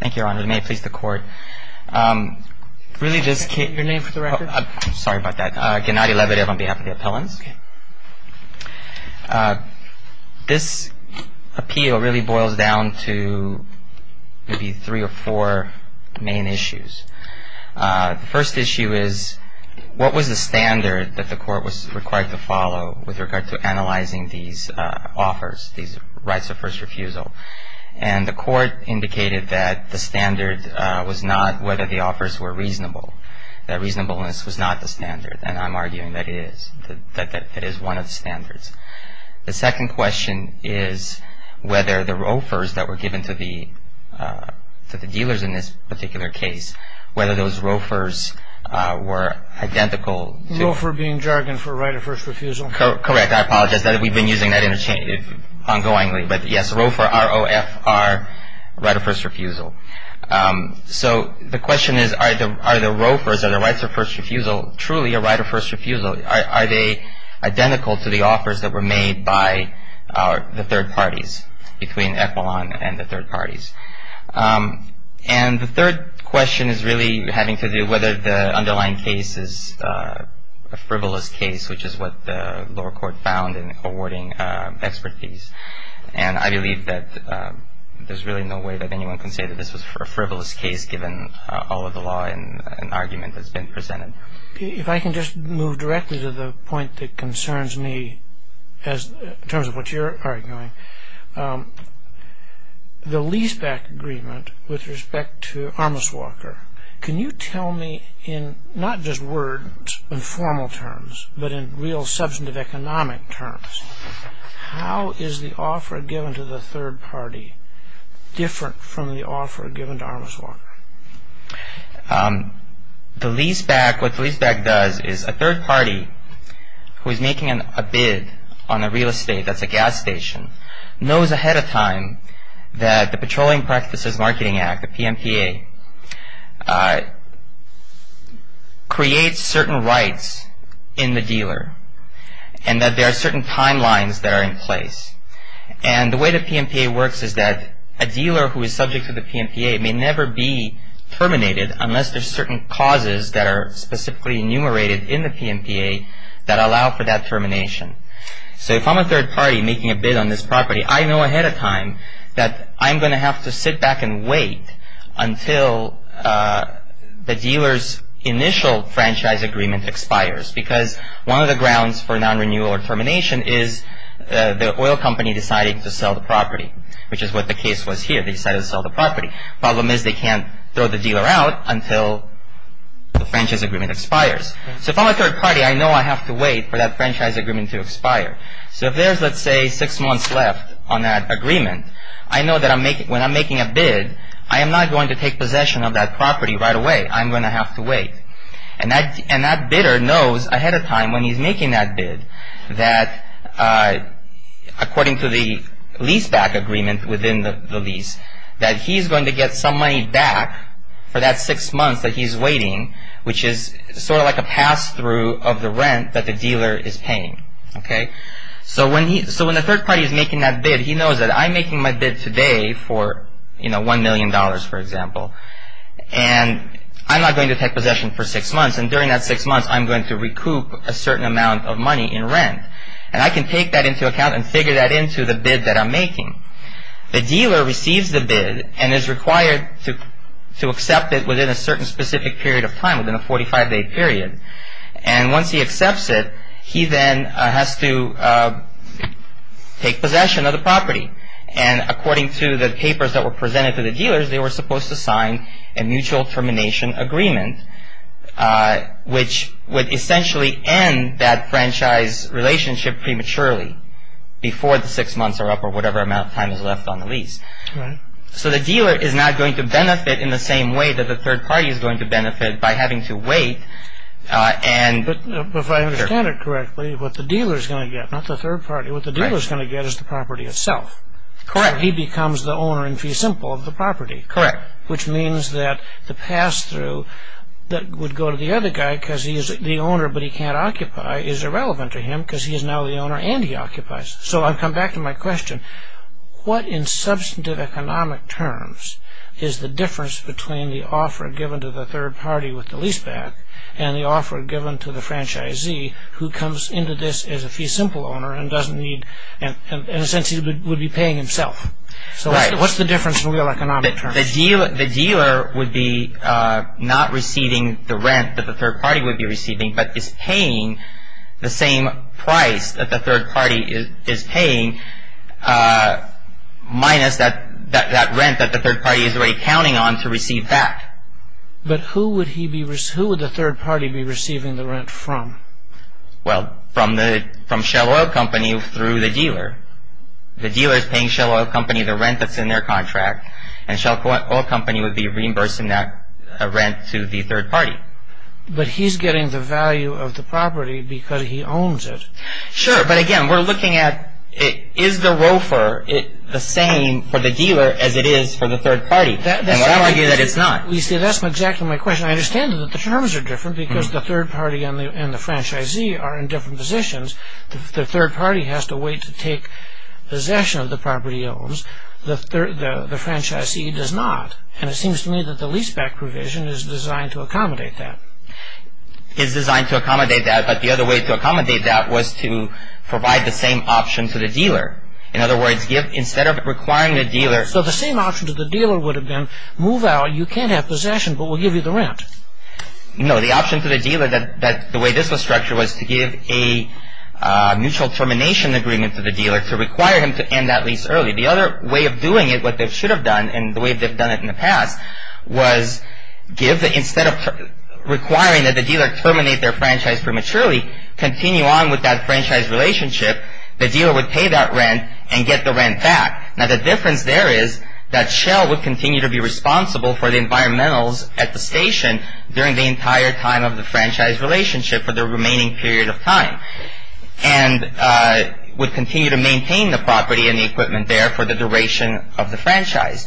Thank you, Your Honor. May it please the Court. Really this case... Your name for the record? I'm sorry about that. Gennady Lebedev on behalf of the appellants. This appeal really boils down to maybe three or four main issues. The first issue is what was the standard that the Court was required to follow with regard to analyzing these offers, these rights of first refusal? And the Court indicated that the standard was not whether the offers were reasonable, that reasonableness was not the standard. And I'm arguing that it is, that it is one of the standards. The second question is whether the ROFRs that were given to the dealers in this particular case, whether those ROFRs were identical to... ROFR being jargon for right of first refusal? Correct. I apologize. We've been using that interchangeably, ongoingly. But yes, ROFR, R-O-F-R, right of first refusal. So the question is, are the ROFRs, are the rights of first refusal truly a right of first refusal? Are they identical to the offers that were made by the third parties, between Equilon and the third parties? And the third question is really having to do whether the underlying case is a frivolous case, which is what the lower court found in awarding expert fees. And I believe that there's really no way that anyone can say that this was a frivolous case given all of the law and argument that's been presented. If I can just move directly to the point that concerns me in terms of what you're arguing, the leaseback agreement with respect to Armis Walker, can you tell me in not just words, in formal terms, but in real substantive economic terms, how is the offer given to the third party different from the offer given to Armis Walker? The leaseback, what the leaseback does is a third party who is making a bid on a real estate, that's a gas station, knows ahead of time that the Petroleum Practices Marketing Act, the PMPA, creates certain rights in the dealer and that there are certain timelines that are in place. And the way the PMPA works is that a dealer who is subject to the PMPA may never be terminated unless there's certain causes that are specifically enumerated in the PMPA that allow for that termination. So if I'm a third party making a bid on this property, I know ahead of time that I'm going to have to sit back and wait until the dealer's initial franchise agreement expires. Because one of the grounds for non-renewal or termination is the oil company deciding to sell the property, which is what the case was here, they decided to sell the property. Problem is they can't throw the dealer out until the franchise agreement expires. So if I'm a third party, I know I have to wait for that franchise agreement to expire. So if there's, let's say, six months left on that agreement, I know that when I'm making a bid, I am not going to take possession of that property right away. I'm going to have to wait. And that bidder knows ahead of time when he's making that bid that, according to the lease-back agreement within the lease, that he's going to get some money back for that six months that he's waiting, which is sort of like a pass-through of the rent that the dealer is paying. So when the third party is making that bid, he knows that I'm making my bid today for $1 million, for example, and I'm not going to take possession for six months. And during that six months, I'm going to recoup a certain amount of money in rent. And I can take that into account and figure that into the bid that I'm making. The dealer receives the bid and is required to accept it within a certain specific period of time, within a 45-day period. And once he accepts it, he then has to take possession of the property. And according to the papers that were presented to the dealers, they were supposed to sign a mutual termination agreement, which would essentially end that franchise relationship prematurely, before the six months are up or whatever amount of time is left on the lease. So the dealer is not going to benefit in the same way that the third party is going to benefit by having to wait. But if I understand it correctly, what the dealer is going to get, not the third party, what the dealer is going to get is the property itself. Correct. He becomes the owner in fee simple of the property. Correct. Which means that the pass-through that would go to the other guy because he is the owner but he can't occupy is irrelevant to him because he is now the owner and he occupies. So I've come back to my question. What in substantive economic terms is the difference between the offer given to the third party with the lease back and the offer given to the franchisee who comes into this as a fee simple owner and doesn't need, in a sense, he would be paying himself? Right. So what's the difference in real economic terms? Well, the dealer would be not receiving the rent that the third party would be receiving but is paying the same price that the third party is paying minus that rent that the third party is already counting on to receive that. But who would the third party be receiving the rent from? The dealer is paying Shell Oil Company the rent that's in their contract and Shell Oil Company would be reimbursing that rent to the third party. But he's getting the value of the property because he owns it. Sure. But, again, we're looking at is the ROFR the same for the dealer as it is for the third party? And I argue that it's not. You see, that's exactly my question. I understand that the terms are different because the third party and the franchisee are in different positions. The third party has to wait to take possession of the property he owns. The franchisee does not. And it seems to me that the leaseback provision is designed to accommodate that. It's designed to accommodate that. But the other way to accommodate that was to provide the same option to the dealer. In other words, instead of requiring the dealer... So the same option to the dealer would have been move out. You can't have possession but we'll give you the rent. No, the option to the dealer, the way this was structured, was to give a mutual termination agreement to the dealer to require him to end that lease early. The other way of doing it, what they should have done and the way they've done it in the past, was instead of requiring that the dealer terminate their franchise prematurely, continue on with that franchise relationship, the dealer would pay that rent and get the rent back. Now the difference there is that Shell would continue to be responsible for the environmentals at the station during the entire time of the franchise relationship for the remaining period of time and would continue to maintain the property and the equipment there for the duration of the franchise.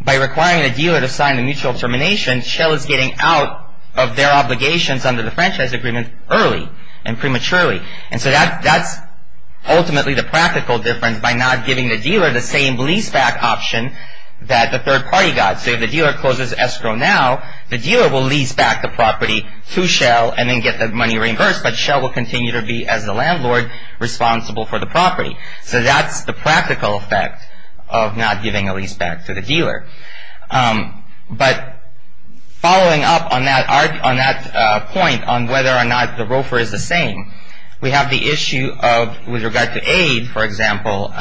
By requiring the dealer to sign the mutual termination, Shell is getting out of their obligations under the franchise agreement early and prematurely. And so that's ultimately the practical difference by not giving the dealer the same lease back option that the third party got. So if the dealer closes escrow now, the dealer will lease back the property to Shell and then get that money reimbursed but Shell will continue to be, as the landlord, responsible for the property. So that's the practical effect of not giving a lease back to the dealer. But following up on that point on whether or not the roofer is the same, we have the issue with regard to aid, for example,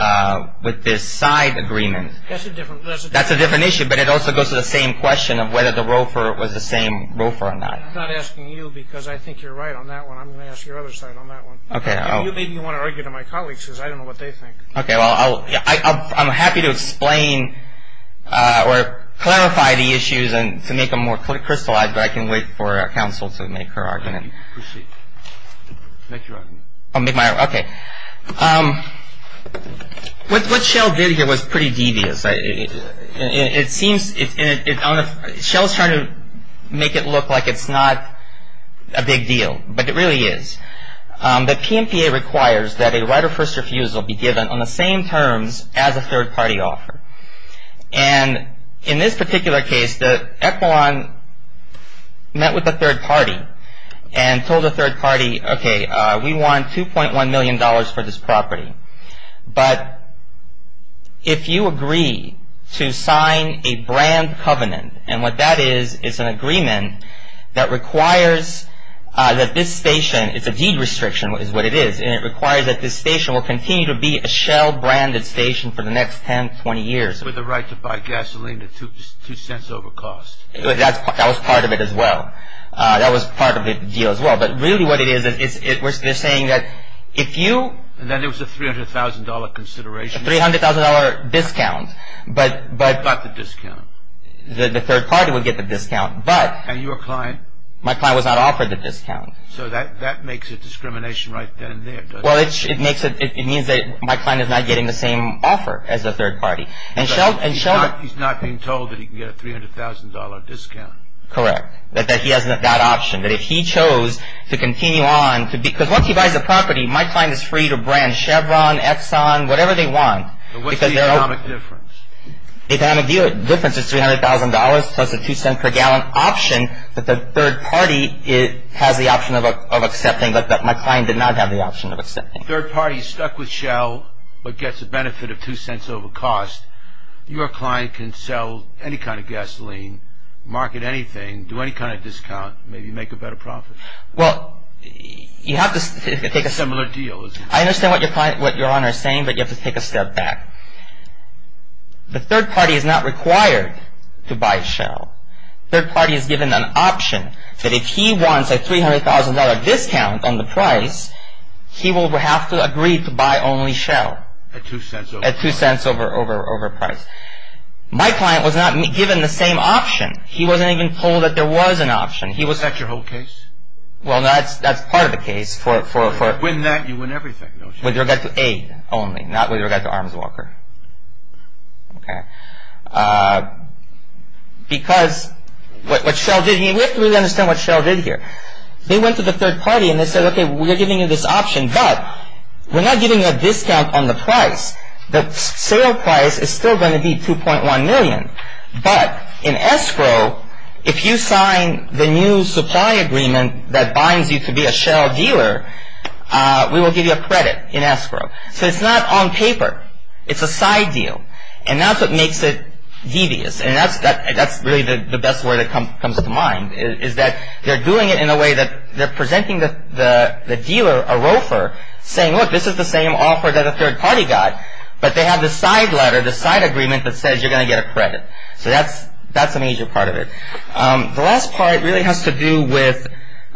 with this side agreement. That's a different issue. But it also goes to the same question of whether the roofer was the same roofer or not. I'm not asking you because I think you're right on that one. I'm going to ask your other side on that one. Maybe you want to argue to my colleagues because I don't know what they think. I'm happy to explain or clarify the issues to make them more crystallized, but I can wait for counsel to make her argument. Make your argument. I'll make my argument. Okay. What Shell did here was pretty devious. It seems Shell is trying to make it look like it's not a big deal, but it really is. The PMPA requires that a right of first refusal be given on the same terms as a third party offer. In this particular case, the echelon met with the third party and told the third party, okay, we want $2.1 million for this property, but if you agree to sign a brand covenant, and what that is is an agreement that requires that this station, it's a deed restriction is what it is, and it requires that this station will continue to be a Shell-branded station for the next 10, 20 years. With the right to buy gasoline at two cents over cost. That was part of it as well. That was part of the deal as well, but really what it is, we're saying that if you... And then there was a $300,000 consideration. A $300,000 discount, but... You got the discount. The third party would get the discount, but... And your client. My client was not offered the discount. So that makes a discrimination right then and there, doesn't it? Well, it means that my client is not getting the same offer as the third party. And Shell... He's not being told that he can get a $300,000 discount. Correct. That he has that option. That if he chose to continue on... Because once he buys the property, my client is free to brand Chevron, Exxon, whatever they want. But what's the economic difference? The economic difference is $300,000 plus a two-cent-per-gallon option that the third party has the option of accepting, but that my client did not have the option of accepting. Third party stuck with Shell, but gets a benefit of two cents over cost. Your client can sell any kind of gasoline, market anything, do any kind of discount, maybe make a better profit. Well, you have to... It's a similar deal. I understand what Your Honor is saying, but you have to take a step back. The third party is not required to buy Shell. The third party is given an option that if he wants a $300,000 discount on the price, he will have to agree to buy only Shell. At two cents over... At two cents over price. My client was not given the same option. He wasn't even told that there was an option. Is that your whole case? Well, that's part of the case for... If you win that, you win everything, don't you? With regard to A only, not with regard to Arms Walker. Okay. Because what Shell did here... We have to really understand what Shell did here. They went to the third party and they said, okay, we're giving you this option, but we're not giving you a discount on the price. The sale price is still going to be $2.1 million, but in escrow, if you sign the new supply agreement that binds you to be a Shell dealer, we will give you a credit in escrow. So it's not on paper. It's a side deal, and that's what makes it devious, and that's really the best word that comes to mind, is that they're doing it in a way that they're presenting the dealer, a roofer, saying, look, this is the same offer that a third party got, but they have the side letter, the side agreement that says you're going to get a credit. So that's an easier part of it. The last part really has to do with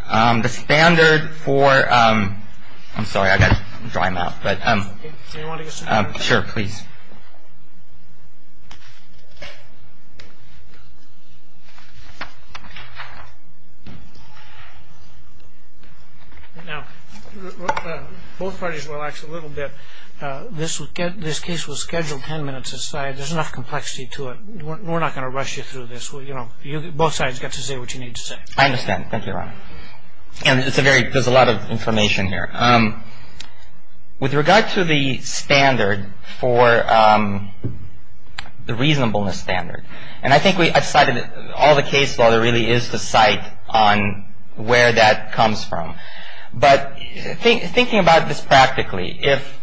the standard for... I'm sorry, I've got to dry my mouth, but... Do you want to get some paper? Sure, please. Now, both parties relax a little bit. This case will schedule 10 minutes aside. There's enough complexity to it. We're not going to rush you through this. Both sides get to say what you need to say. I understand. Thank you, Your Honor. And there's a lot of information here. With regard to the standard for the reasonableness standard, and I think I've cited all the case law there really is to cite on where that comes from, but thinking about this practically, if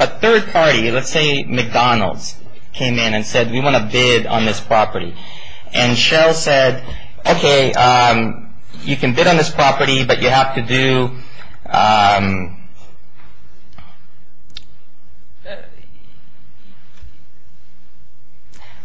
a third party, let's say McDonald's, came in and said, we want to bid on this property, and Sheryl said, okay, you can bid on this property, but you have to do...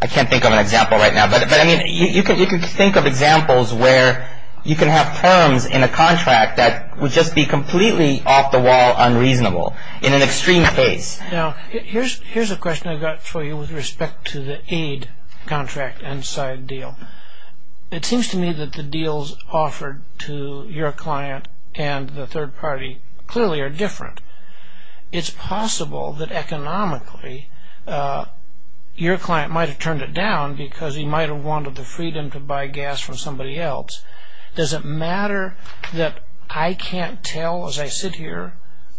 I can't think of an example right now, but you can think of examples where you can have firms in a contract that would just be completely off the wall unreasonable in an extreme case. Now, here's a question I've got for you with respect to the aid contract and side deal. It seems to me that the deals offered to your client and the third party clearly are different. It's possible that economically your client might have turned it down because he might have wanted the freedom to buy gas from somebody else. Does it matter that I can't tell as I sit here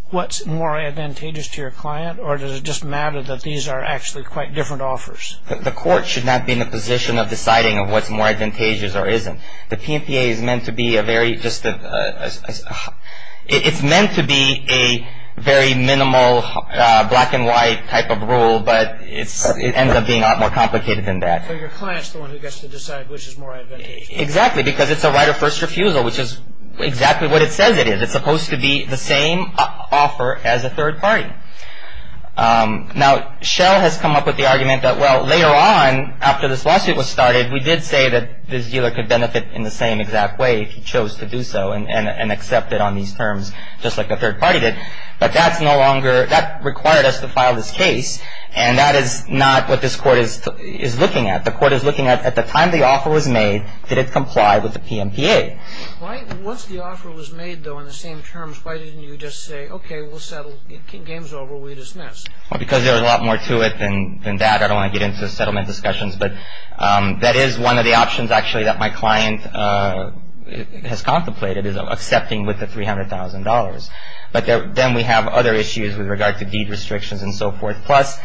what's more advantageous to your client, or does it just matter that these are actually quite different offers? The court should not be in a position of deciding of what's more advantageous or isn't. The PMPA is meant to be a very just... It's meant to be a very minimal black and white type of rule, but it ends up being a lot more complicated than that. So your client's the one who gets to decide which is more advantageous. Exactly, because it's a right of first refusal, which is exactly what it says it is. It's supposed to be the same offer as a third party. Now, Shell has come up with the argument that, well, later on after this lawsuit was started, we did say that this dealer could benefit in the same exact way if he chose to do so and accept it on these terms just like a third party did, but that's no longer... that required us to file this case, and that is not what this court is looking at. The court is looking at, at the time the offer was made, did it comply with the PMPA? Once the offer was made, though, in the same terms, why didn't you just say, okay, we'll settle, game's over, we dismiss? Well, because there was a lot more to it than that. I don't want to get into settlement discussions, but that is one of the options, actually, that my client has contemplated, is accepting with the $300,000. But then we have other issues with regard to deed restrictions and so forth. Plus,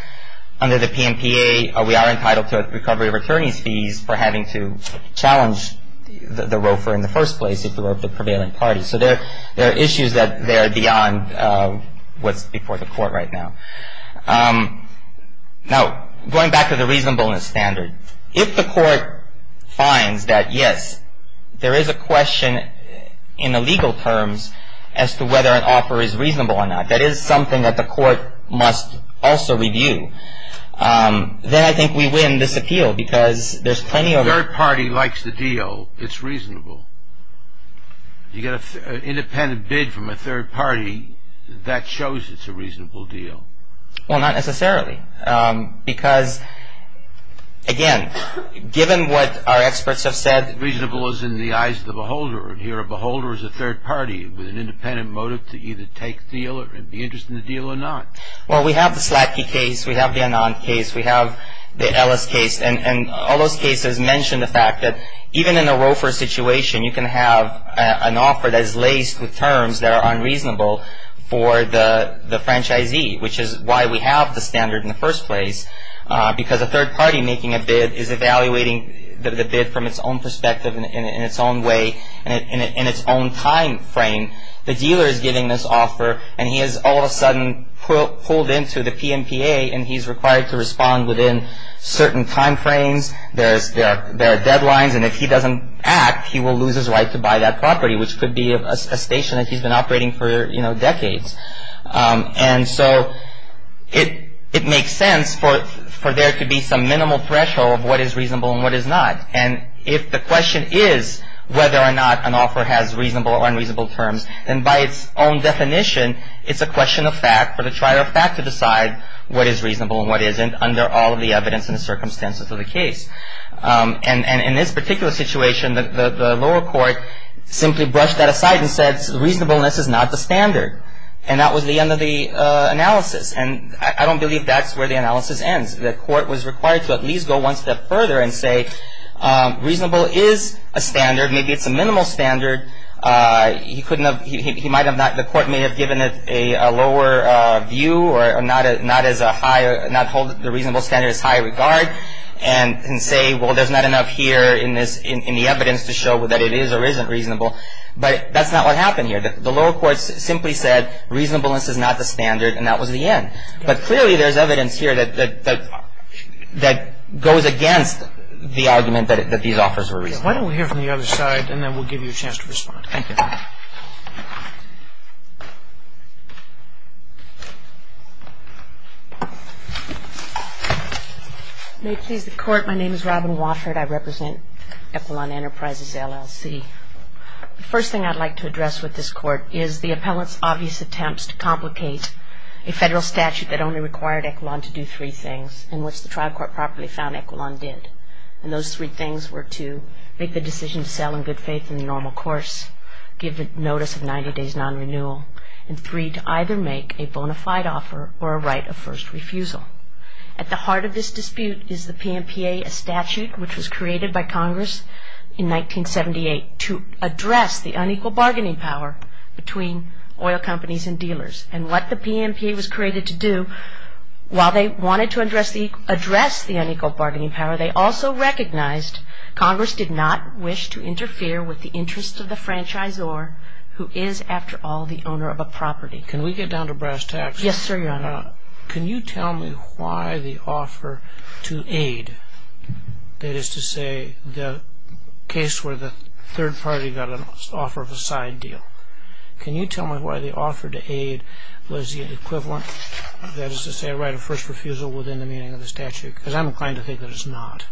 under the PMPA, we are entitled to recovery of attorney's fees for having to challenge the roofer in the first place if the roofer prevailed in parties. So there are issues that are beyond what's before the court right now. Now, going back to the reasonableness standard, if the court finds that, yes, there is a question in the legal terms as to whether an offer is reasonable or not, that is something that the court must also review, then I think we win this appeal because there's plenty of... A third party likes the deal, it's reasonable. You get an independent bid from a third party, that shows it's a reasonable deal. Well, not necessarily, because, again, given what our experts have said... with an independent motive to either take the deal and be interested in the deal or not. Well, we have the Slatke case, we have the Anand case, we have the Ellis case, and all those cases mention the fact that even in a roofer situation, you can have an offer that is laced with terms that are unreasonable for the franchisee, which is why we have the standard in the first place, because a third party making a bid is evaluating the bid from its own perspective and in its own way and in its own time frame. The dealer is giving this offer, and he has all of a sudden pulled into the PMPA, and he's required to respond within certain time frames. There are deadlines, and if he doesn't act, he will lose his right to buy that property, which could be a station that he's been operating for decades. And so it makes sense for there to be some minimal threshold of what is reasonable and what is not. And if the question is whether or not an offer has reasonable or unreasonable terms, then by its own definition, it's a question of fact for the trier of fact to decide what is reasonable and what isn't under all of the evidence and the circumstances of the case. And in this particular situation, the lower court simply brushed that aside and said, reasonableness is not the standard, and that was the end of the analysis. And I don't believe that's where the analysis ends. The court was required to at least go one step further and say reasonable is a standard. Maybe it's a minimal standard. The court may have given it a lower view or not hold the reasonable standard as high regard and say, well, there's not enough here in the evidence to show that it is or isn't reasonable. But that's not what happened here. The lower court simply said reasonableness is not the standard, and that was the end. But clearly there's evidence here that goes against the argument that these offers were reasonable. Why don't we hear from the other side, and then we'll give you a chance to respond. Thank you. May it please the Court. My name is Robin Watford. I represent Epelon Enterprises, LLC. The first thing I'd like to address with this Court is the appellant's obvious attempts to complicate a federal statute that only required Epelon to do three things, and which the trial court properly found Epelon did. And those three things were to make the decision to sell in good faith in the normal course, give the notice of 90 days non-renewal, and three, to either make a bona fide offer or a right of first refusal. At the heart of this dispute is the PMPA, a statute which was created by Congress in 1978 to address the unequal bargaining power between oil companies and dealers. And what the PMPA was created to do, while they wanted to address the unequal bargaining power, they also recognized Congress did not wish to interfere with the interest of the franchisor, who is, after all, the owner of a property. Can we get down to brass tacks? Yes, sir, Your Honor. Your Honor, can you tell me why the offer to aid, that is to say, the case where the third party got an offer of a side deal, can you tell me why the offer to aid was the equivalent, that is to say, right of first refusal within the meaning of the statute? Because I'm inclined to think that it's not.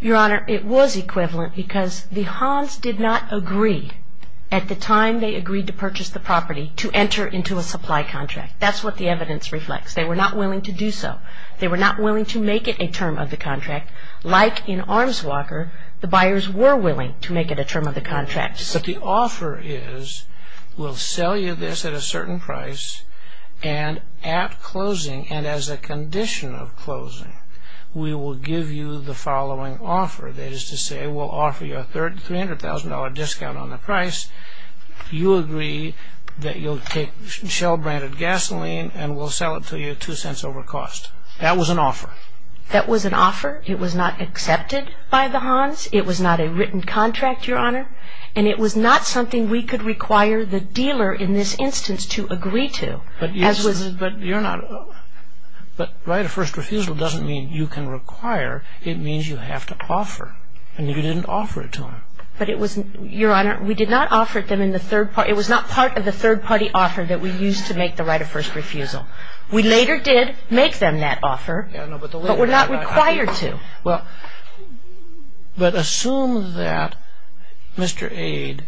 Your Honor, it was equivalent because the Hans did not agree, at the time they agreed to purchase the property, to enter into a supply contract. That's what the evidence reflects. They were not willing to do so. They were not willing to make it a term of the contract. Like in Arms Walker, the buyers were willing to make it a term of the contract. But the offer is, we'll sell you this at a certain price, and at closing, and as a condition of closing, we will give you the following offer, that is to say, we'll offer you a $300,000 discount on the price. You agree that you'll take Shell-branded gasoline and we'll sell it to you at $0.02 over cost. That was an offer. That was an offer. It was not accepted by the Hans. It was not a written contract, Your Honor. And it was not something we could require the dealer in this instance to agree to. But you're not, but right of first refusal doesn't mean you can require. It means you have to offer. And you didn't offer it to him. But it was, Your Honor, we did not offer it to him in the third party. It was not part of the third party offer that we used to make the right of first refusal. We later did make them that offer. But we're not required to. But assume that Mr. Aide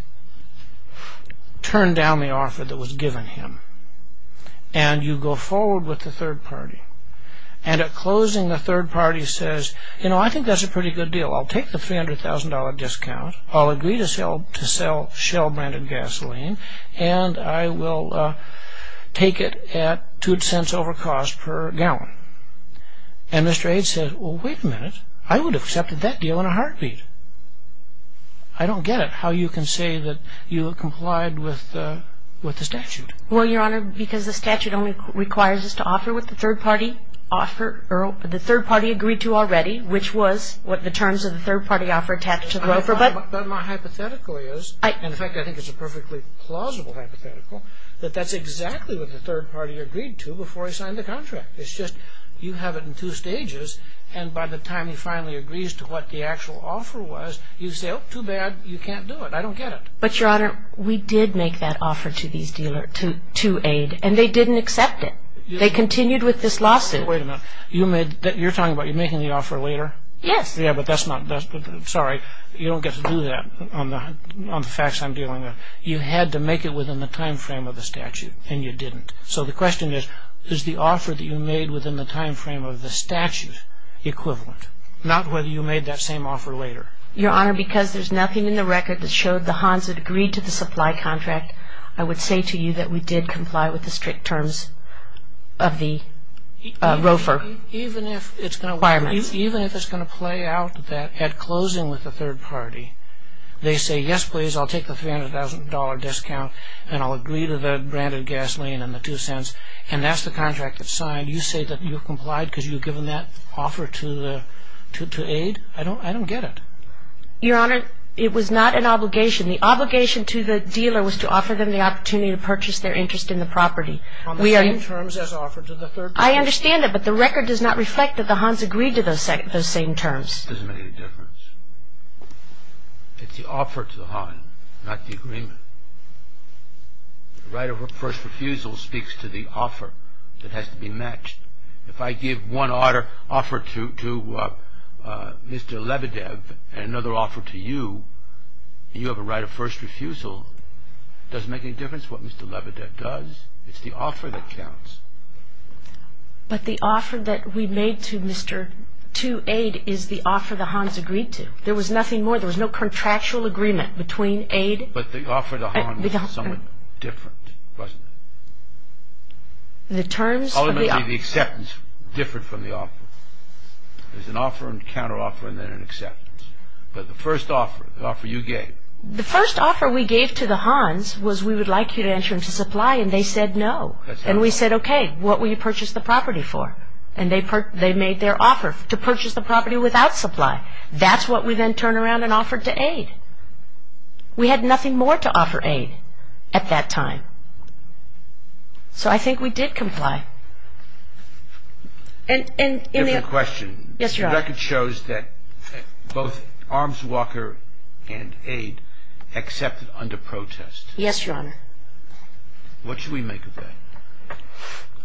turned down the offer that was given him, and you go forward with the third party. And at closing, the third party says, you know, I think that's a pretty good deal. I'll take the $300,000 discount. I'll agree to sell Shell-branded gasoline, and I will take it at $0.02 over cost per gallon. And Mr. Aide says, well, wait a minute. I would have accepted that deal in a heartbeat. I don't get it how you can say that you complied with the statute. Well, Your Honor, because the statute only requires us to offer what the third party agreed to already, which was what the terms of the third party offer attached to the offer. But my hypothetical is, in fact, I think it's a perfectly plausible hypothetical, that that's exactly what the third party agreed to before he signed the contract. It's just you have it in two stages, and by the time he finally agrees to what the actual offer was, you say, oh, too bad. You can't do it. I don't get it. But, Your Honor, we did make that offer to Aide, and they didn't accept it. They continued with this lawsuit. Wait a minute. You're talking about you making the offer later? Yes. Yeah, but that's not, sorry, you don't get to do that on the facts I'm dealing with. You had to make it within the time frame of the statute, and you didn't. So the question is, is the offer that you made within the time frame of the statute equivalent? Not whether you made that same offer later. Your Honor, because there's nothing in the record that showed the Hans had agreed to the supply contract, I would say to you that we did comply with the strict terms of the ROFR requirements. Even if it's going to play out at closing with the third party, they say, yes, please, I'll take the $300,000 discount, and I'll agree to the branded gasoline and the two cents, and that's the contract that's signed. You say that you've complied because you've given that offer to Aide? I don't get it. Your Honor, it was not an obligation. The obligation to the dealer was to offer them the opportunity to purchase their interest in the property. On the same terms as offered to the third party? I understand it, but the record does not reflect that the Hans agreed to those same terms. It doesn't make any difference. It's the offer to the Hans, not the agreement. The right of first refusal speaks to the offer that has to be matched. If I give one offer to Mr. Lebedev and another offer to you, and you have a right of first refusal, does it make any difference what Mr. Lebedev does? It's the offer that counts. But the offer that we made to Aide is the offer the Hans agreed to. There was nothing more. There was no contractual agreement between Aide and the Hans. But the offer to Hans was somewhat different, wasn't it? Ultimately, the acceptance differed from the offer. There's an offer and counteroffer and then an acceptance. But the first offer, the offer you gave... The first offer we gave to the Hans was we would like you to enter into supply, and they said no. And we said, okay, what will you purchase the property for? And they made their offer to purchase the property without supply. That's what we then turned around and offered to Aide. We had nothing more to offer Aide at that time. So I think we did comply. And in the... Different question. Yes, Your Honor. The record shows that both Arms Walker and Aide accepted under protest. Yes, Your Honor. What should we make of that?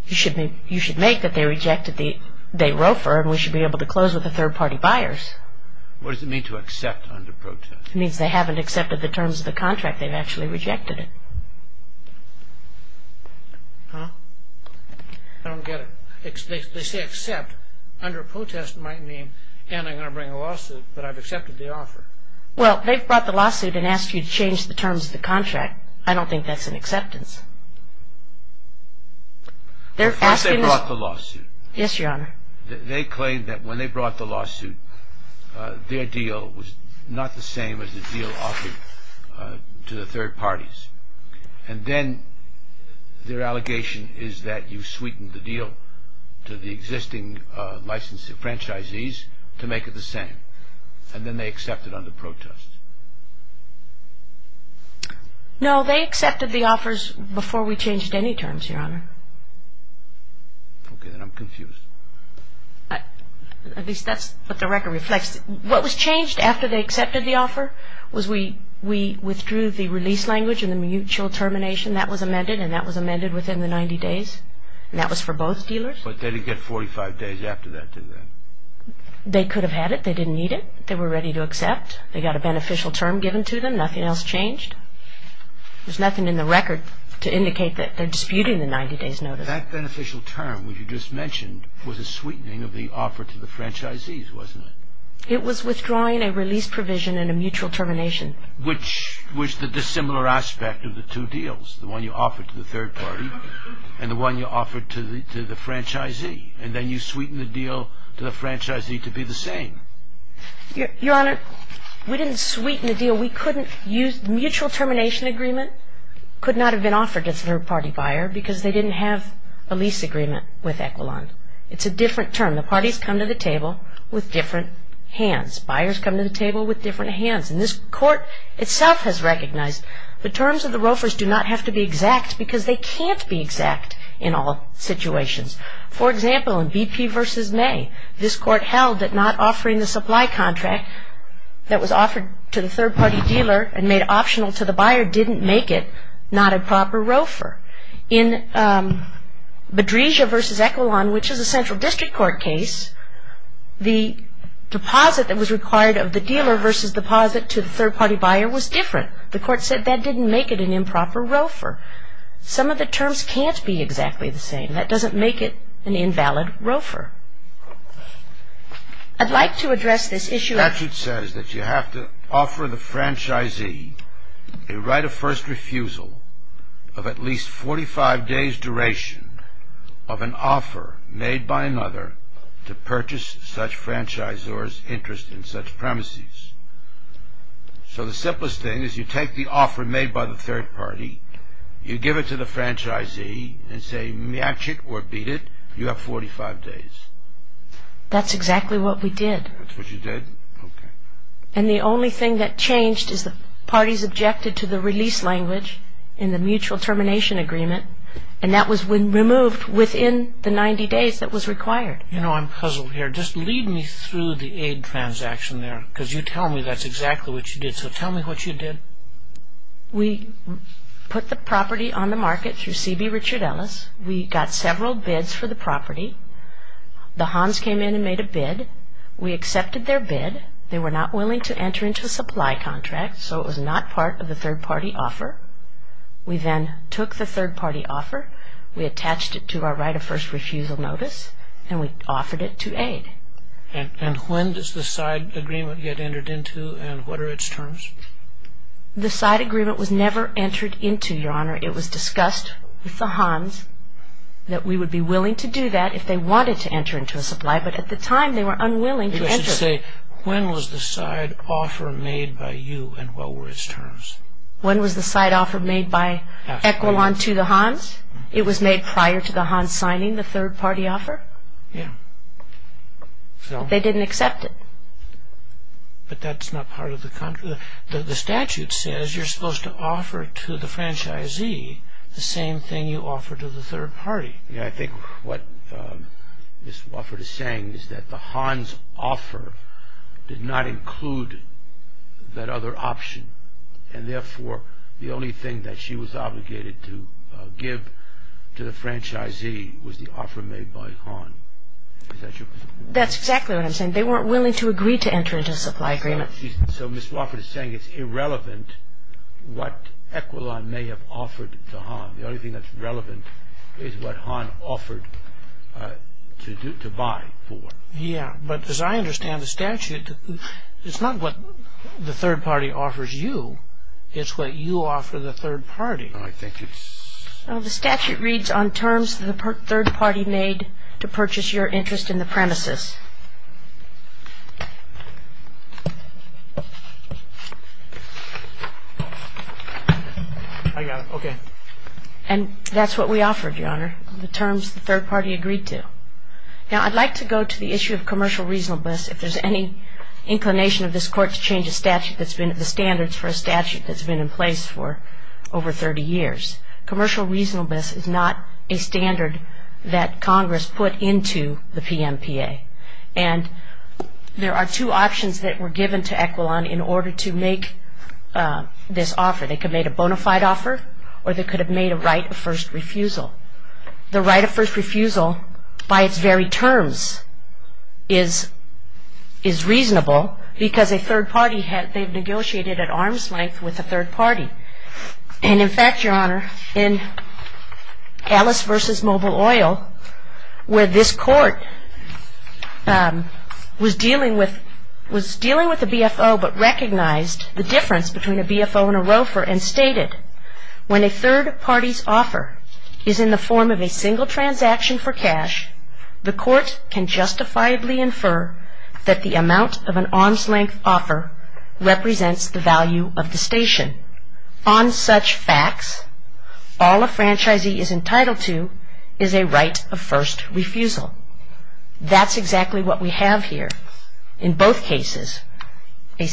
You should make that they rejected, they wrote for, and we should be able to close with the third-party buyers. What does it mean to accept under protest? It means they haven't accepted the terms of the contract. They've actually rejected it. Huh? I don't get it. They say accept. Under protest might mean, and I'm going to bring a lawsuit, but I've accepted the offer. Well, they've brought the lawsuit and asked you to change the terms of the contract. I don't think that's an acceptance. First they brought the lawsuit. Yes, Your Honor. They claim that when they brought the lawsuit, their deal was not the same as the deal offered to the third parties. And then their allegation is that you sweetened the deal to the existing licensee, franchisees, to make it the same. And then they accepted under protest. No, they accepted the offers before we changed any terms, Your Honor. Okay, then I'm confused. At least that's what the record reflects. What was changed after they accepted the offer was we withdrew the release language and the mutual termination. That was amended, and that was amended within the 90 days. And that was for both dealers. But they didn't get 45 days after that, did they? They could have had it. They didn't need it. They were ready to accept. They got a beneficial term given to them. Nothing else changed. There's nothing in the record to indicate that they're disputing the 90 days notice. That beneficial term that you just mentioned was a sweetening of the offer to the franchisees, wasn't it? It was withdrawing a release provision and a mutual termination. Which was the dissimilar aspect of the two deals, the one you offered to the third party and the one you offered to the franchisee. And then you sweetened the deal to the franchisee to be the same. Your Honor, we didn't sweeten the deal. The mutual termination agreement could not have been offered to a third party buyer because they didn't have a lease agreement with Equilon. It's a different term. The parties come to the table with different hands. Buyers come to the table with different hands. And this Court itself has recognized the terms of the ROFRs do not have to be exact because they can't be exact in all situations. For example, in BP v. May, this Court held that not offering the supply contract that was offered to the third party dealer and made optional to the buyer didn't make it not a proper ROFR. In Bedresia v. Equilon, which is a Central District Court case, the deposit that was required of the dealer versus deposit to the third party buyer was different. The Court said that didn't make it an improper ROFR. Some of the terms can't be exactly the same. That doesn't make it an invalid ROFR. I'd like to address this issue. The statute says that you have to offer the franchisee a right of first refusal of at least 45 days duration of an offer made by another to purchase such franchisor's interest in such premises. So the simplest thing is you take the offer made by the third party, you give it to the franchisee and say match it or beat it, you have 45 days. That's exactly what we did. That's what you did? Okay. And the only thing that changed is the parties objected to the release language in the mutual termination agreement and that was removed within the 90 days that was required. You know, I'm puzzled here. Just lead me through the aid transaction there because you tell me that's exactly what you did. So tell me what you did. We put the property on the market through C.B. Richard Ellis. We got several bids for the property. The Hans came in and made a bid. We accepted their bid. They were not willing to enter into a supply contract so it was not part of the third party offer. We then took the third party offer. We attached it to our right of first refusal notice and we offered it to aid. And when does the side agreement get entered into and what are its terms? The side agreement was never entered into, Your Honor. It was discussed with the Hans that we would be willing to do that if they wanted to enter into a supply but at the time they were unwilling to enter. You should say when was the side offer made by you and what were its terms? When was the side offer made by Equilon to the Hans? It was made prior to the Hans signing the third party offer. Yeah. They didn't accept it. But that's not part of the contract. The statute says you're supposed to offer to the franchisee the same thing you offer to the third party. Yeah, I think what Ms. Wofford is saying is that the Hans offer did not include that other option and therefore the only thing that she was obligated to give to the franchisee was the offer made by Hans. Is that your position? That's exactly what I'm saying. They weren't willing to agree to enter into a supply agreement. So Ms. Wofford is saying it's irrelevant what Equilon may have offered to Hans. The only thing that's relevant is what Hans offered to buy for. Yeah, but as I understand the statute, it's not what the third party offers you. It's what you offer the third party. The statute reads on terms the third party made to purchase your interest in the premises. I got it. Okay. And that's what we offered, Your Honor, the terms the third party agreed to. Now I'd like to go to the issue of commercial reasonableness. If there's any inclination of this Court to change the standards for a statute that's been in place for over 30 years. Commercial reasonableness is not a standard that Congress put into the PMPA. And there are two options that were given to Equilon in order to make this offer. They could have made a bona fide offer or they could have made a right of first refusal. The right of first refusal by its very terms is reasonable because a third party, they've negotiated at arm's length with a third party. And in fact, Your Honor, in Alice v. Mobile Oil, where this Court was dealing with the BFO but recognized the difference between a BFO and a roofer and stated, when a third party's offer is in the form of a single transaction for cash, the Court can justifiably infer that the amount of an arm's length offer represents the value of the station. On such facts, all a franchisee is entitled to is a right of first refusal. That's exactly what we have here in both cases. A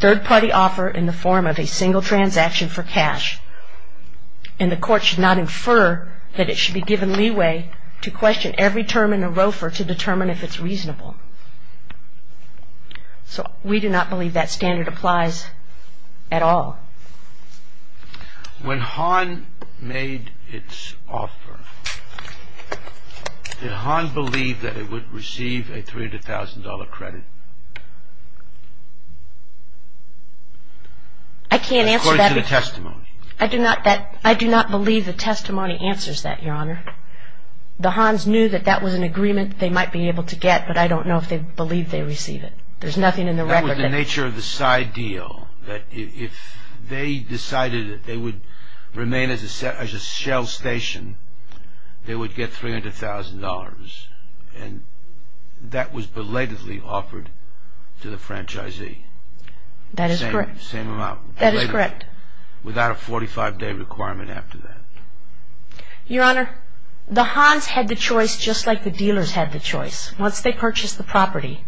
third party offer in the form of a single transaction for cash, and the Court should not infer that it should be given leeway to question every term in a roofer to determine if it's reasonable. So we do not believe that standard applies at all. When Hahn made its offer, did Hahn believe that it would receive a $300,000 credit? I can't answer that. According to the testimony. I do not believe the testimony answers that, Your Honor. The Hahns knew that that was an agreement they might be able to get, but I don't know if they believed they'd receive it. There's nothing in the record that... If they decided that they would remain as a shell station, they would get $300,000, and that was belatedly offered to the franchisee. That is correct. Same amount. That is correct. Without a 45-day requirement after that. Your Honor, the Hahns had the choice just like the dealers had the choice. Once they purchased the property,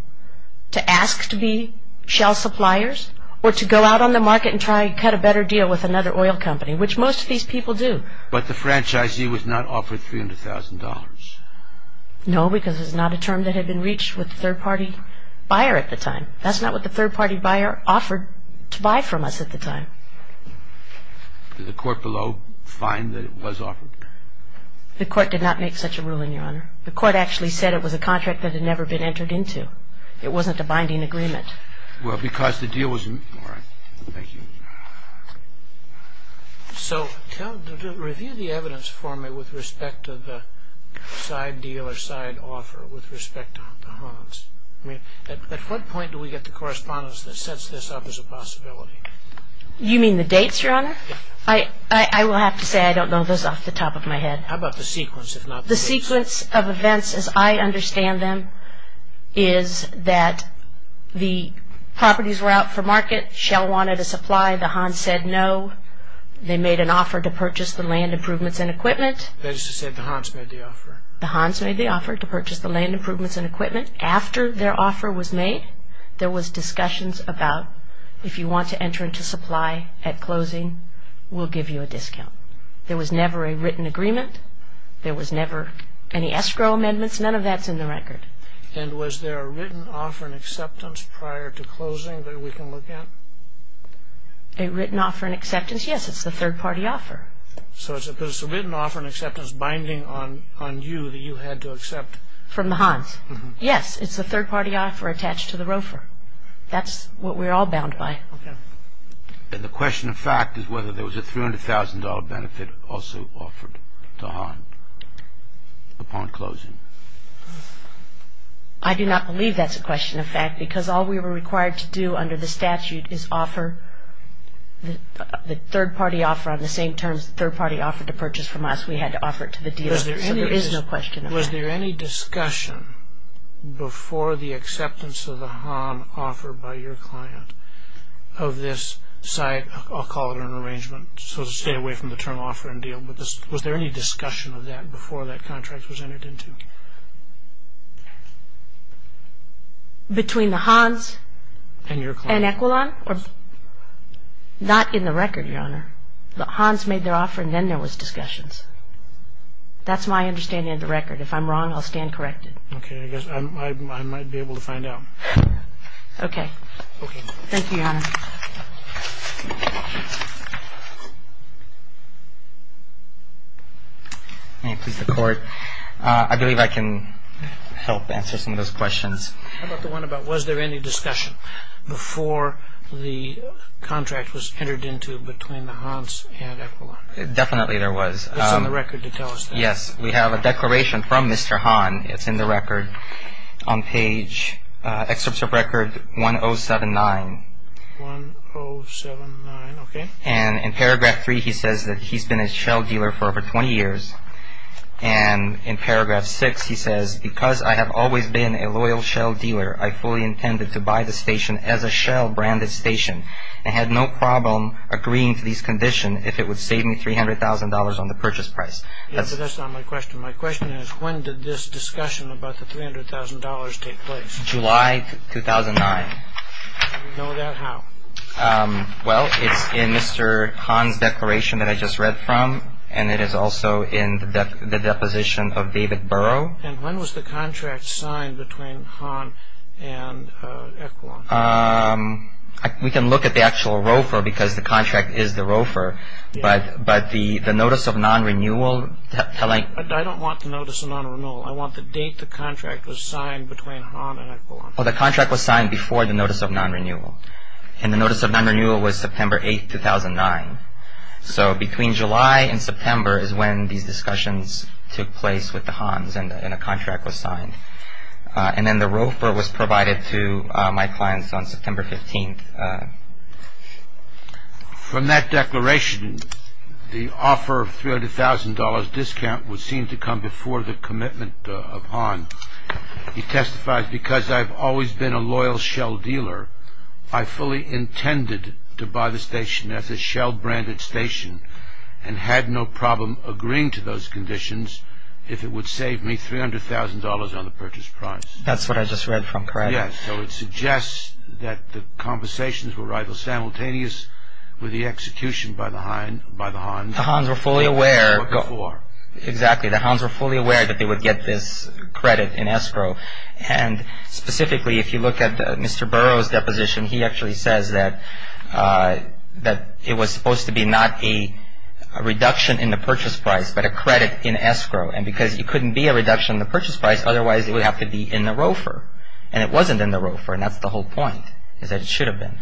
to ask to be shell suppliers or to go out on the market and try to cut a better deal with another oil company, which most of these people do. But the franchisee was not offered $300,000. No, because it was not a term that had been reached with a third-party buyer at the time. That's not what the third-party buyer offered to buy from us at the time. Did the court below find that it was offered? The court did not make such a ruling, Your Honor. The court actually said it was a contract that had never been entered into. It wasn't a binding agreement. Well, because the deal was a... All right. Thank you. So review the evidence for me with respect to the side deal or side offer with respect to the Hahns. At what point do we get the correspondence that sets this up as a possibility? You mean the dates, Your Honor? I will have to say I don't know those off the top of my head. How about the sequence, if not the dates? The sequence of events, as I understand them, is that the properties were out for market. Shell wanted a supply. The Hahns said no. They made an offer to purchase the land, improvements, and equipment. That is to say the Hahns made the offer. The Hahns made the offer to purchase the land, improvements, and equipment. After their offer was made, there was discussions about if you want to enter into supply at closing, we'll give you a discount. There was never a written agreement. There was never any escrow amendments. None of that's in the record. And was there a written offer in acceptance prior to closing that we can look at? A written offer in acceptance? Yes, it's the third-party offer. So it's a written offer in acceptance binding on you that you had to accept? From the Hahns. Yes, it's a third-party offer attached to the ROFR. That's what we're all bound by. Okay. And the question of fact is whether there was a $300,000 benefit also offered to Hahn upon closing. I do not believe that's a question of fact because all we were required to do under the statute is offer the third-party offer on the same terms the third-party offered to purchase from us. We had to offer it to the dealer. So there is no question of fact. Was there any discussion before the acceptance of the Hahn offer by your client of this site? I'll call it an arrangement, so to stay away from the term offer and deal, but was there any discussion of that before that contract was entered into? Between the Hahns and Equilon? Not in the record, Your Honor. The Hahns made their offer and then there was discussions. That's my understanding of the record. If I'm wrong, I'll stand corrected. Okay. I guess I might be able to find out. Okay. Okay. Thank you, Your Honor. May it please the Court. I believe I can help answer some of those questions. How about the one about was there any discussion before the contract was entered into between the Hahns and Equilon? Definitely there was. It's on the record to tell us that. Yes. We have a declaration from Mr. Hahn. It's in the record on page, Excerpt of Record 1079. 1079. Okay. And in Paragraph 3 he says that he's been a shell dealer for over 20 years. And in Paragraph 6 he says, Because I have always been a loyal shell dealer, I fully intended to buy the station as a shell-branded station and had no problem agreeing to these conditions if it would save me $300,000 on the purchase price. Yes, but that's not my question. My question is when did this discussion about the $300,000 take place? July 2009. Do you know that how? Well, it's in Mr. Hahn's declaration that I just read from, and it is also in the deposition of David Burrow. And when was the contract signed between Hahn and Equilon? We can look at the actual ROFR because the contract is the ROFR, but the Notice of Non-Renewal telling... I don't want the Notice of Non-Renewal. I want the date the contract was signed between Hahn and Equilon. Well, the contract was signed before the Notice of Non-Renewal. And the Notice of Non-Renewal was September 8, 2009. So between July and September is when these discussions took place with the Hahn's and a contract was signed. And then the ROFR was provided to my clients on September 15. From that declaration, the offer of $300,000 discount would seem to come before the commitment of Hahn. He testifies, because I've always been a loyal Shell dealer, I fully intended to buy the station as a Shell-branded station and had no problem agreeing to those conditions if it would save me $300,000 on the purchase price. That's what I just read from Craig. Yes, so it suggests that the conversations were rival-simultaneous with the execution by the Hahn's... The Hahn's were fully aware... Exactly, the Hahn's were fully aware that they would get this credit in escrow. And specifically, if you look at Mr. Burrow's deposition, he actually says that it was supposed to be not a reduction in the purchase price, but a credit in escrow. And because it couldn't be a reduction in the purchase price, otherwise it would have to be in the ROFR. And it wasn't in the ROFR, and that's the whole point, is that it should have been.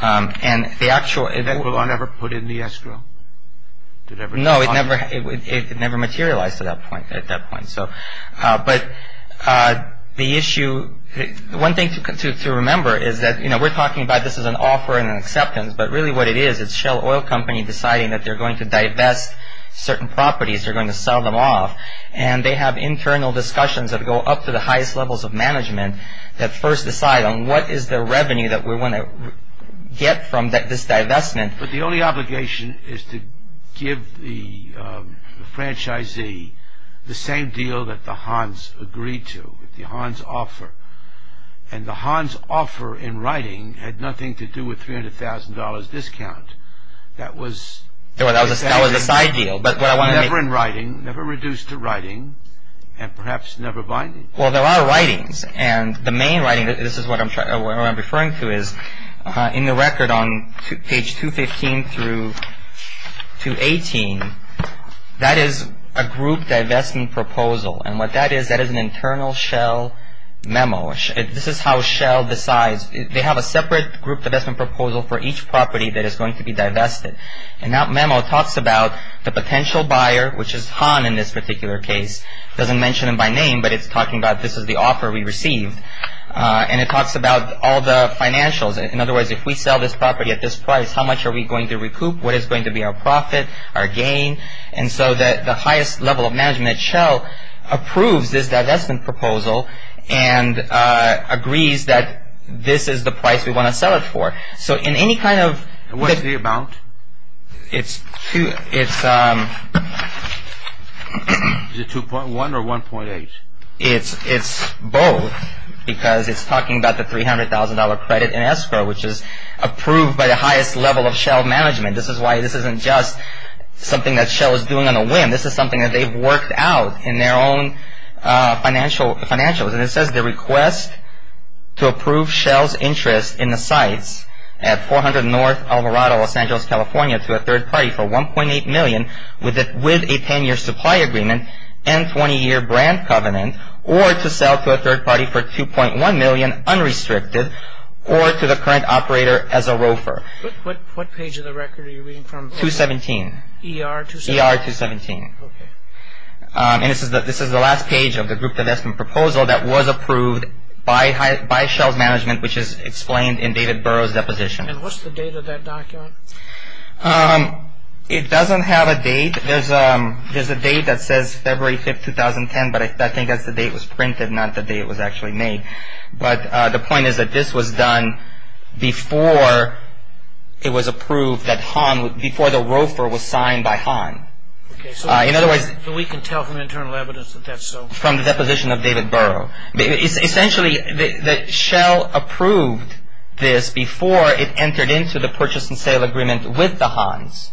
And the actual... The ROFR never put in the escrow? No, it never materialized at that point. But the issue... One thing to remember is that, you know, we're talking about this as an offer and an acceptance, but really what it is, it's Shell Oil Company deciding that they're going to divest certain properties, they're going to sell them off, and they have internal discussions that go up to the highest levels of management that first decide on what is the revenue that we want to get from this divestment. But the only obligation is to give the franchisee the same deal that the Hahn's agreed to, the Hahn's offer. And the Hahn's offer in writing had nothing to do with $300,000 discount. That was... That was a side deal. But what I want to make... Never in writing, never reduced to writing, and perhaps never binding. Well, there are writings. And the main writing, this is what I'm referring to, is in the record on page 215 through 218, that is a group divestment proposal. And what that is, that is an internal Shell memo. This is how Shell decides. They have a separate group divestment proposal for each property that is going to be divested. And that memo talks about the potential buyer, which is Hahn in this particular case. It doesn't mention him by name, but it's talking about this is the offer we received. And it talks about all the financials. In other words, if we sell this property at this price, how much are we going to recoup? What is going to be our profit, our gain? And so the highest level of management at Shell approves this divestment proposal and agrees that this is the price we want to sell it for. So in any kind of... What's the amount? It's... Is it 2.1 or 1.8? It's both. Because it's talking about the $300,000 credit in escrow, which is approved by the highest level of Shell management. This is why this isn't just something that Shell is doing on a whim. This is something that they've worked out in their own financials. And it says the request to approve Shell's interest in the sites at 400 North Alvarado, Los Angeles, California, to a third party for $1.8 million with a 10-year supply agreement and 20-year brand covenant or to sell to a third party for $2.1 million unrestricted or to the current operator as a roofer. What page of the record are you reading from? 217. ER 217? ER 217. Okay. And this is the last page of the group divestment proposal that was approved by Shell's management, which is explained in David Burrow's deposition. And what's the date of that document? It doesn't have a date. There's a date that says February 5, 2010, but I think that's the date it was printed, not the date it was actually made. But the point is that this was done before it was approved that Han, before the roofer was signed by Han. Okay. So we can tell from internal evidence that that's so? From the deposition of David Burrow. Essentially, Shell approved this before it entered into the purchase and sale agreement with the Hans.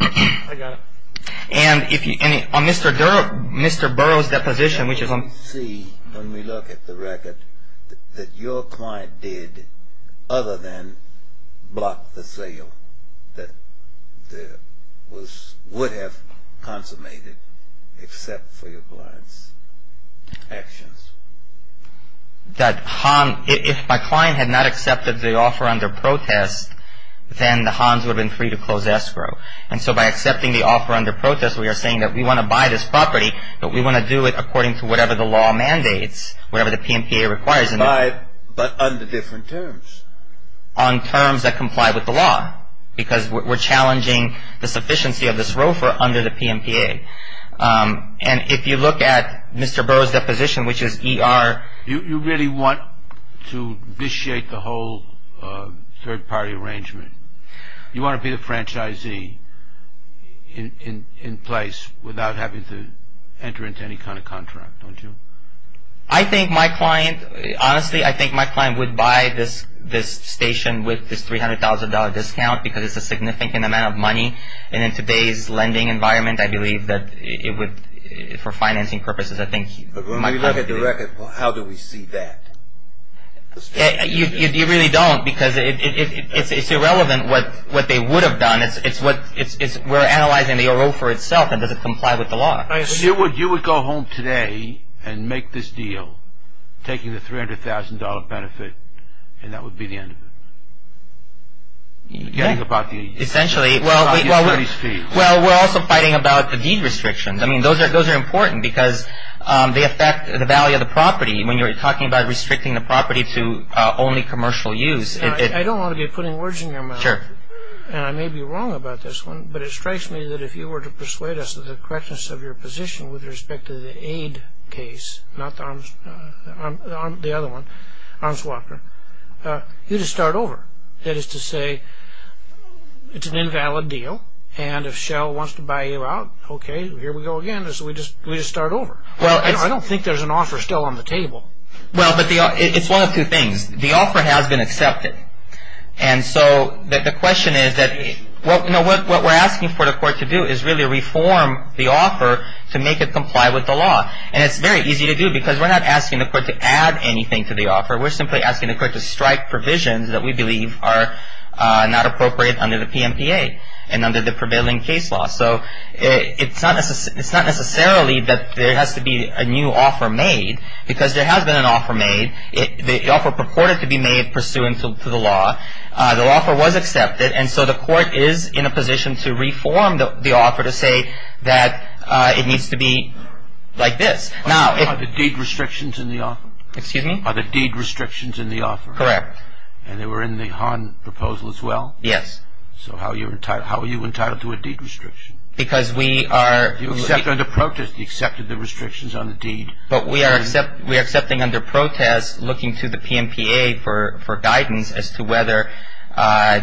I got it. On Mr. Burrow's deposition, which is on... We see, when we look at the record, that your client did other than block the sale that would have consummated, except for your client's actions. That Han, if my client had not accepted the offer under protest, then the Hans would have been free to close escrow. And so by accepting the offer under protest, we are saying that we want to buy this property, but we want to do it according to whatever the law mandates, whatever the PMPA requires. But under different terms. On terms that comply with the law, because we're challenging the sufficiency of this roofer under the PMPA. And if you look at Mr. Burrow's deposition, which is ER... You really want to vitiate the whole third-party arrangement. You want to be the franchisee in place without having to enter into any kind of contract, don't you? I think my client, honestly, I think my client would buy this station with this $300,000 discount because it's a significant amount of money. And in today's lending environment, I believe that it would, for financing purposes, I think... But when we look at the record, how do we see that? You really don't, because it's irrelevant what they would have done. We're analyzing the roofer itself, and does it comply with the law? You would go home today and make this deal, taking the $300,000 benefit, and that would be the end of it? Essentially. Well, we're also fighting about the deed restrictions. I mean, those are important because they affect the value of the property. When you're talking about restricting the property to only commercial use... I don't want to be putting words in your mouth, and I may be wrong about this one, but it strikes me that if you were to persuade us of the correctness of your position with respect to the aid case, not the other one, Arms Walker, you'd just start over. That is to say, it's an invalid deal, and if Shell wants to buy you out, okay, here we go again. We just start over. I don't think there's an offer still on the table. Well, it's one of two things. The offer has been accepted, and so the question is that what we're asking for the court to do is really reform the offer to make it comply with the law, and it's very easy to do because we're not asking the court to add anything to the offer. We're simply asking the court to strike provisions that we believe are not appropriate under the PMPA and under the prevailing case law. So it's not necessarily that there has to be a new offer made because there has been an offer made. The offer purported to be made pursuant to the law. The offer was accepted, and so the court is in a position to reform the offer to say that it needs to be like this. Are the deed restrictions in the offer? Excuse me? Are the deed restrictions in the offer? Correct. And they were in the Hahn proposal as well? Yes. So how are you entitled to a deed restriction? Because we are... You accept under protest. You accepted the restrictions on the deed. But we are accepting under protest looking to the PMPA for guidance as to whether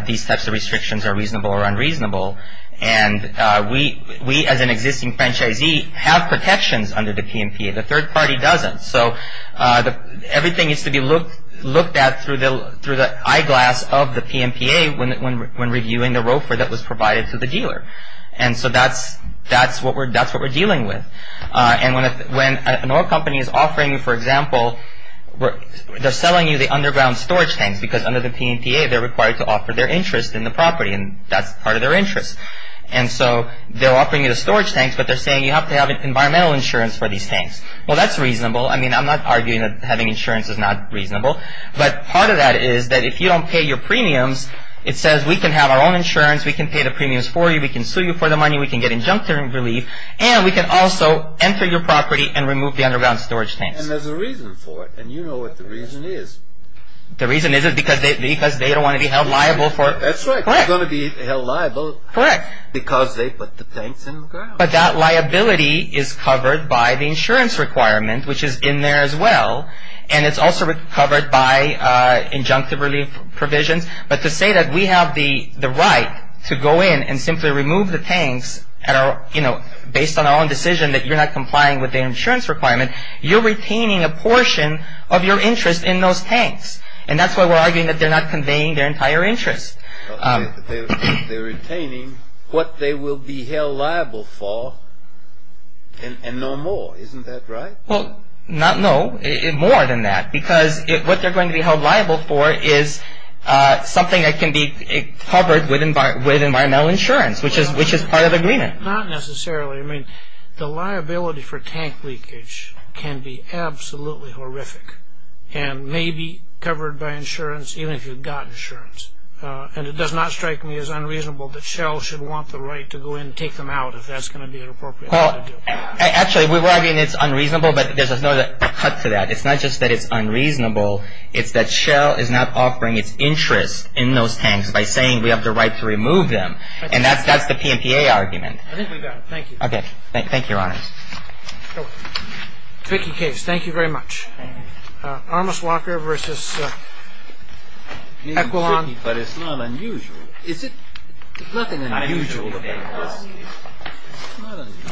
these types of restrictions are reasonable or unreasonable, and we as an existing franchisee have protections under the PMPA. The third party doesn't. So everything needs to be looked at through the eyeglass of the PMPA when reviewing the ROFR that was provided to the dealer. And so that's what we're dealing with. And when an oil company is offering, for example, they're selling you the underground storage tanks because under the PMPA they're required to offer their interest in the property, and that's part of their interest. And so they're offering you the storage tanks, but they're saying you have to have environmental insurance for these tanks. Well, that's reasonable. I mean, I'm not arguing that having insurance is not reasonable, but part of that is that if you don't pay your premiums, it says we can have our own insurance, we can pay the premiums for you, we can sue you for the money, we can get injunctive relief, and we can also enter your property and remove the underground storage tanks. And there's a reason for it, and you know what the reason is. The reason is because they don't want to be held liable for it. That's right. Correct. They're going to be held liable... Correct. ...because they put the tanks in the ground. But that liability is covered by the insurance requirement, which is in there as well, and it's also covered by injunctive relief provisions. But to say that we have the right to go in and simply remove the tanks based on our own decision that you're not complying with the insurance requirement, you're retaining a portion of your interest in those tanks. And that's why we're arguing that they're not conveying their entire interest. They're retaining what they will be held liable for, and no more. Isn't that right? Well, not no, more than that. Because what they're going to be held liable for is something that can be covered with environmental insurance, which is part of the agreement. Not necessarily. I mean, the liability for tank leakage can be absolutely horrific and may be covered by insurance, even if you've got insurance. And it does not strike me as unreasonable that Shell should want the right to go in and take them out if that's going to be an appropriate thing to do. Actually, we were arguing it's unreasonable, but there's no cut to that. It's not just that it's unreasonable. It's that Shell is not offering its interest in those tanks by saying we have the right to remove them, and that's the PMPA argument. I think we've got it. Thank you. Okay. Thank you, Your Honors. Tricky case. Thank you very much. Armis Walker v. Equilon. But it's not unusual. Is it? Nothing unusual. Not unusual. Not unusual. You are welcome to identify yourself. Yes. I've...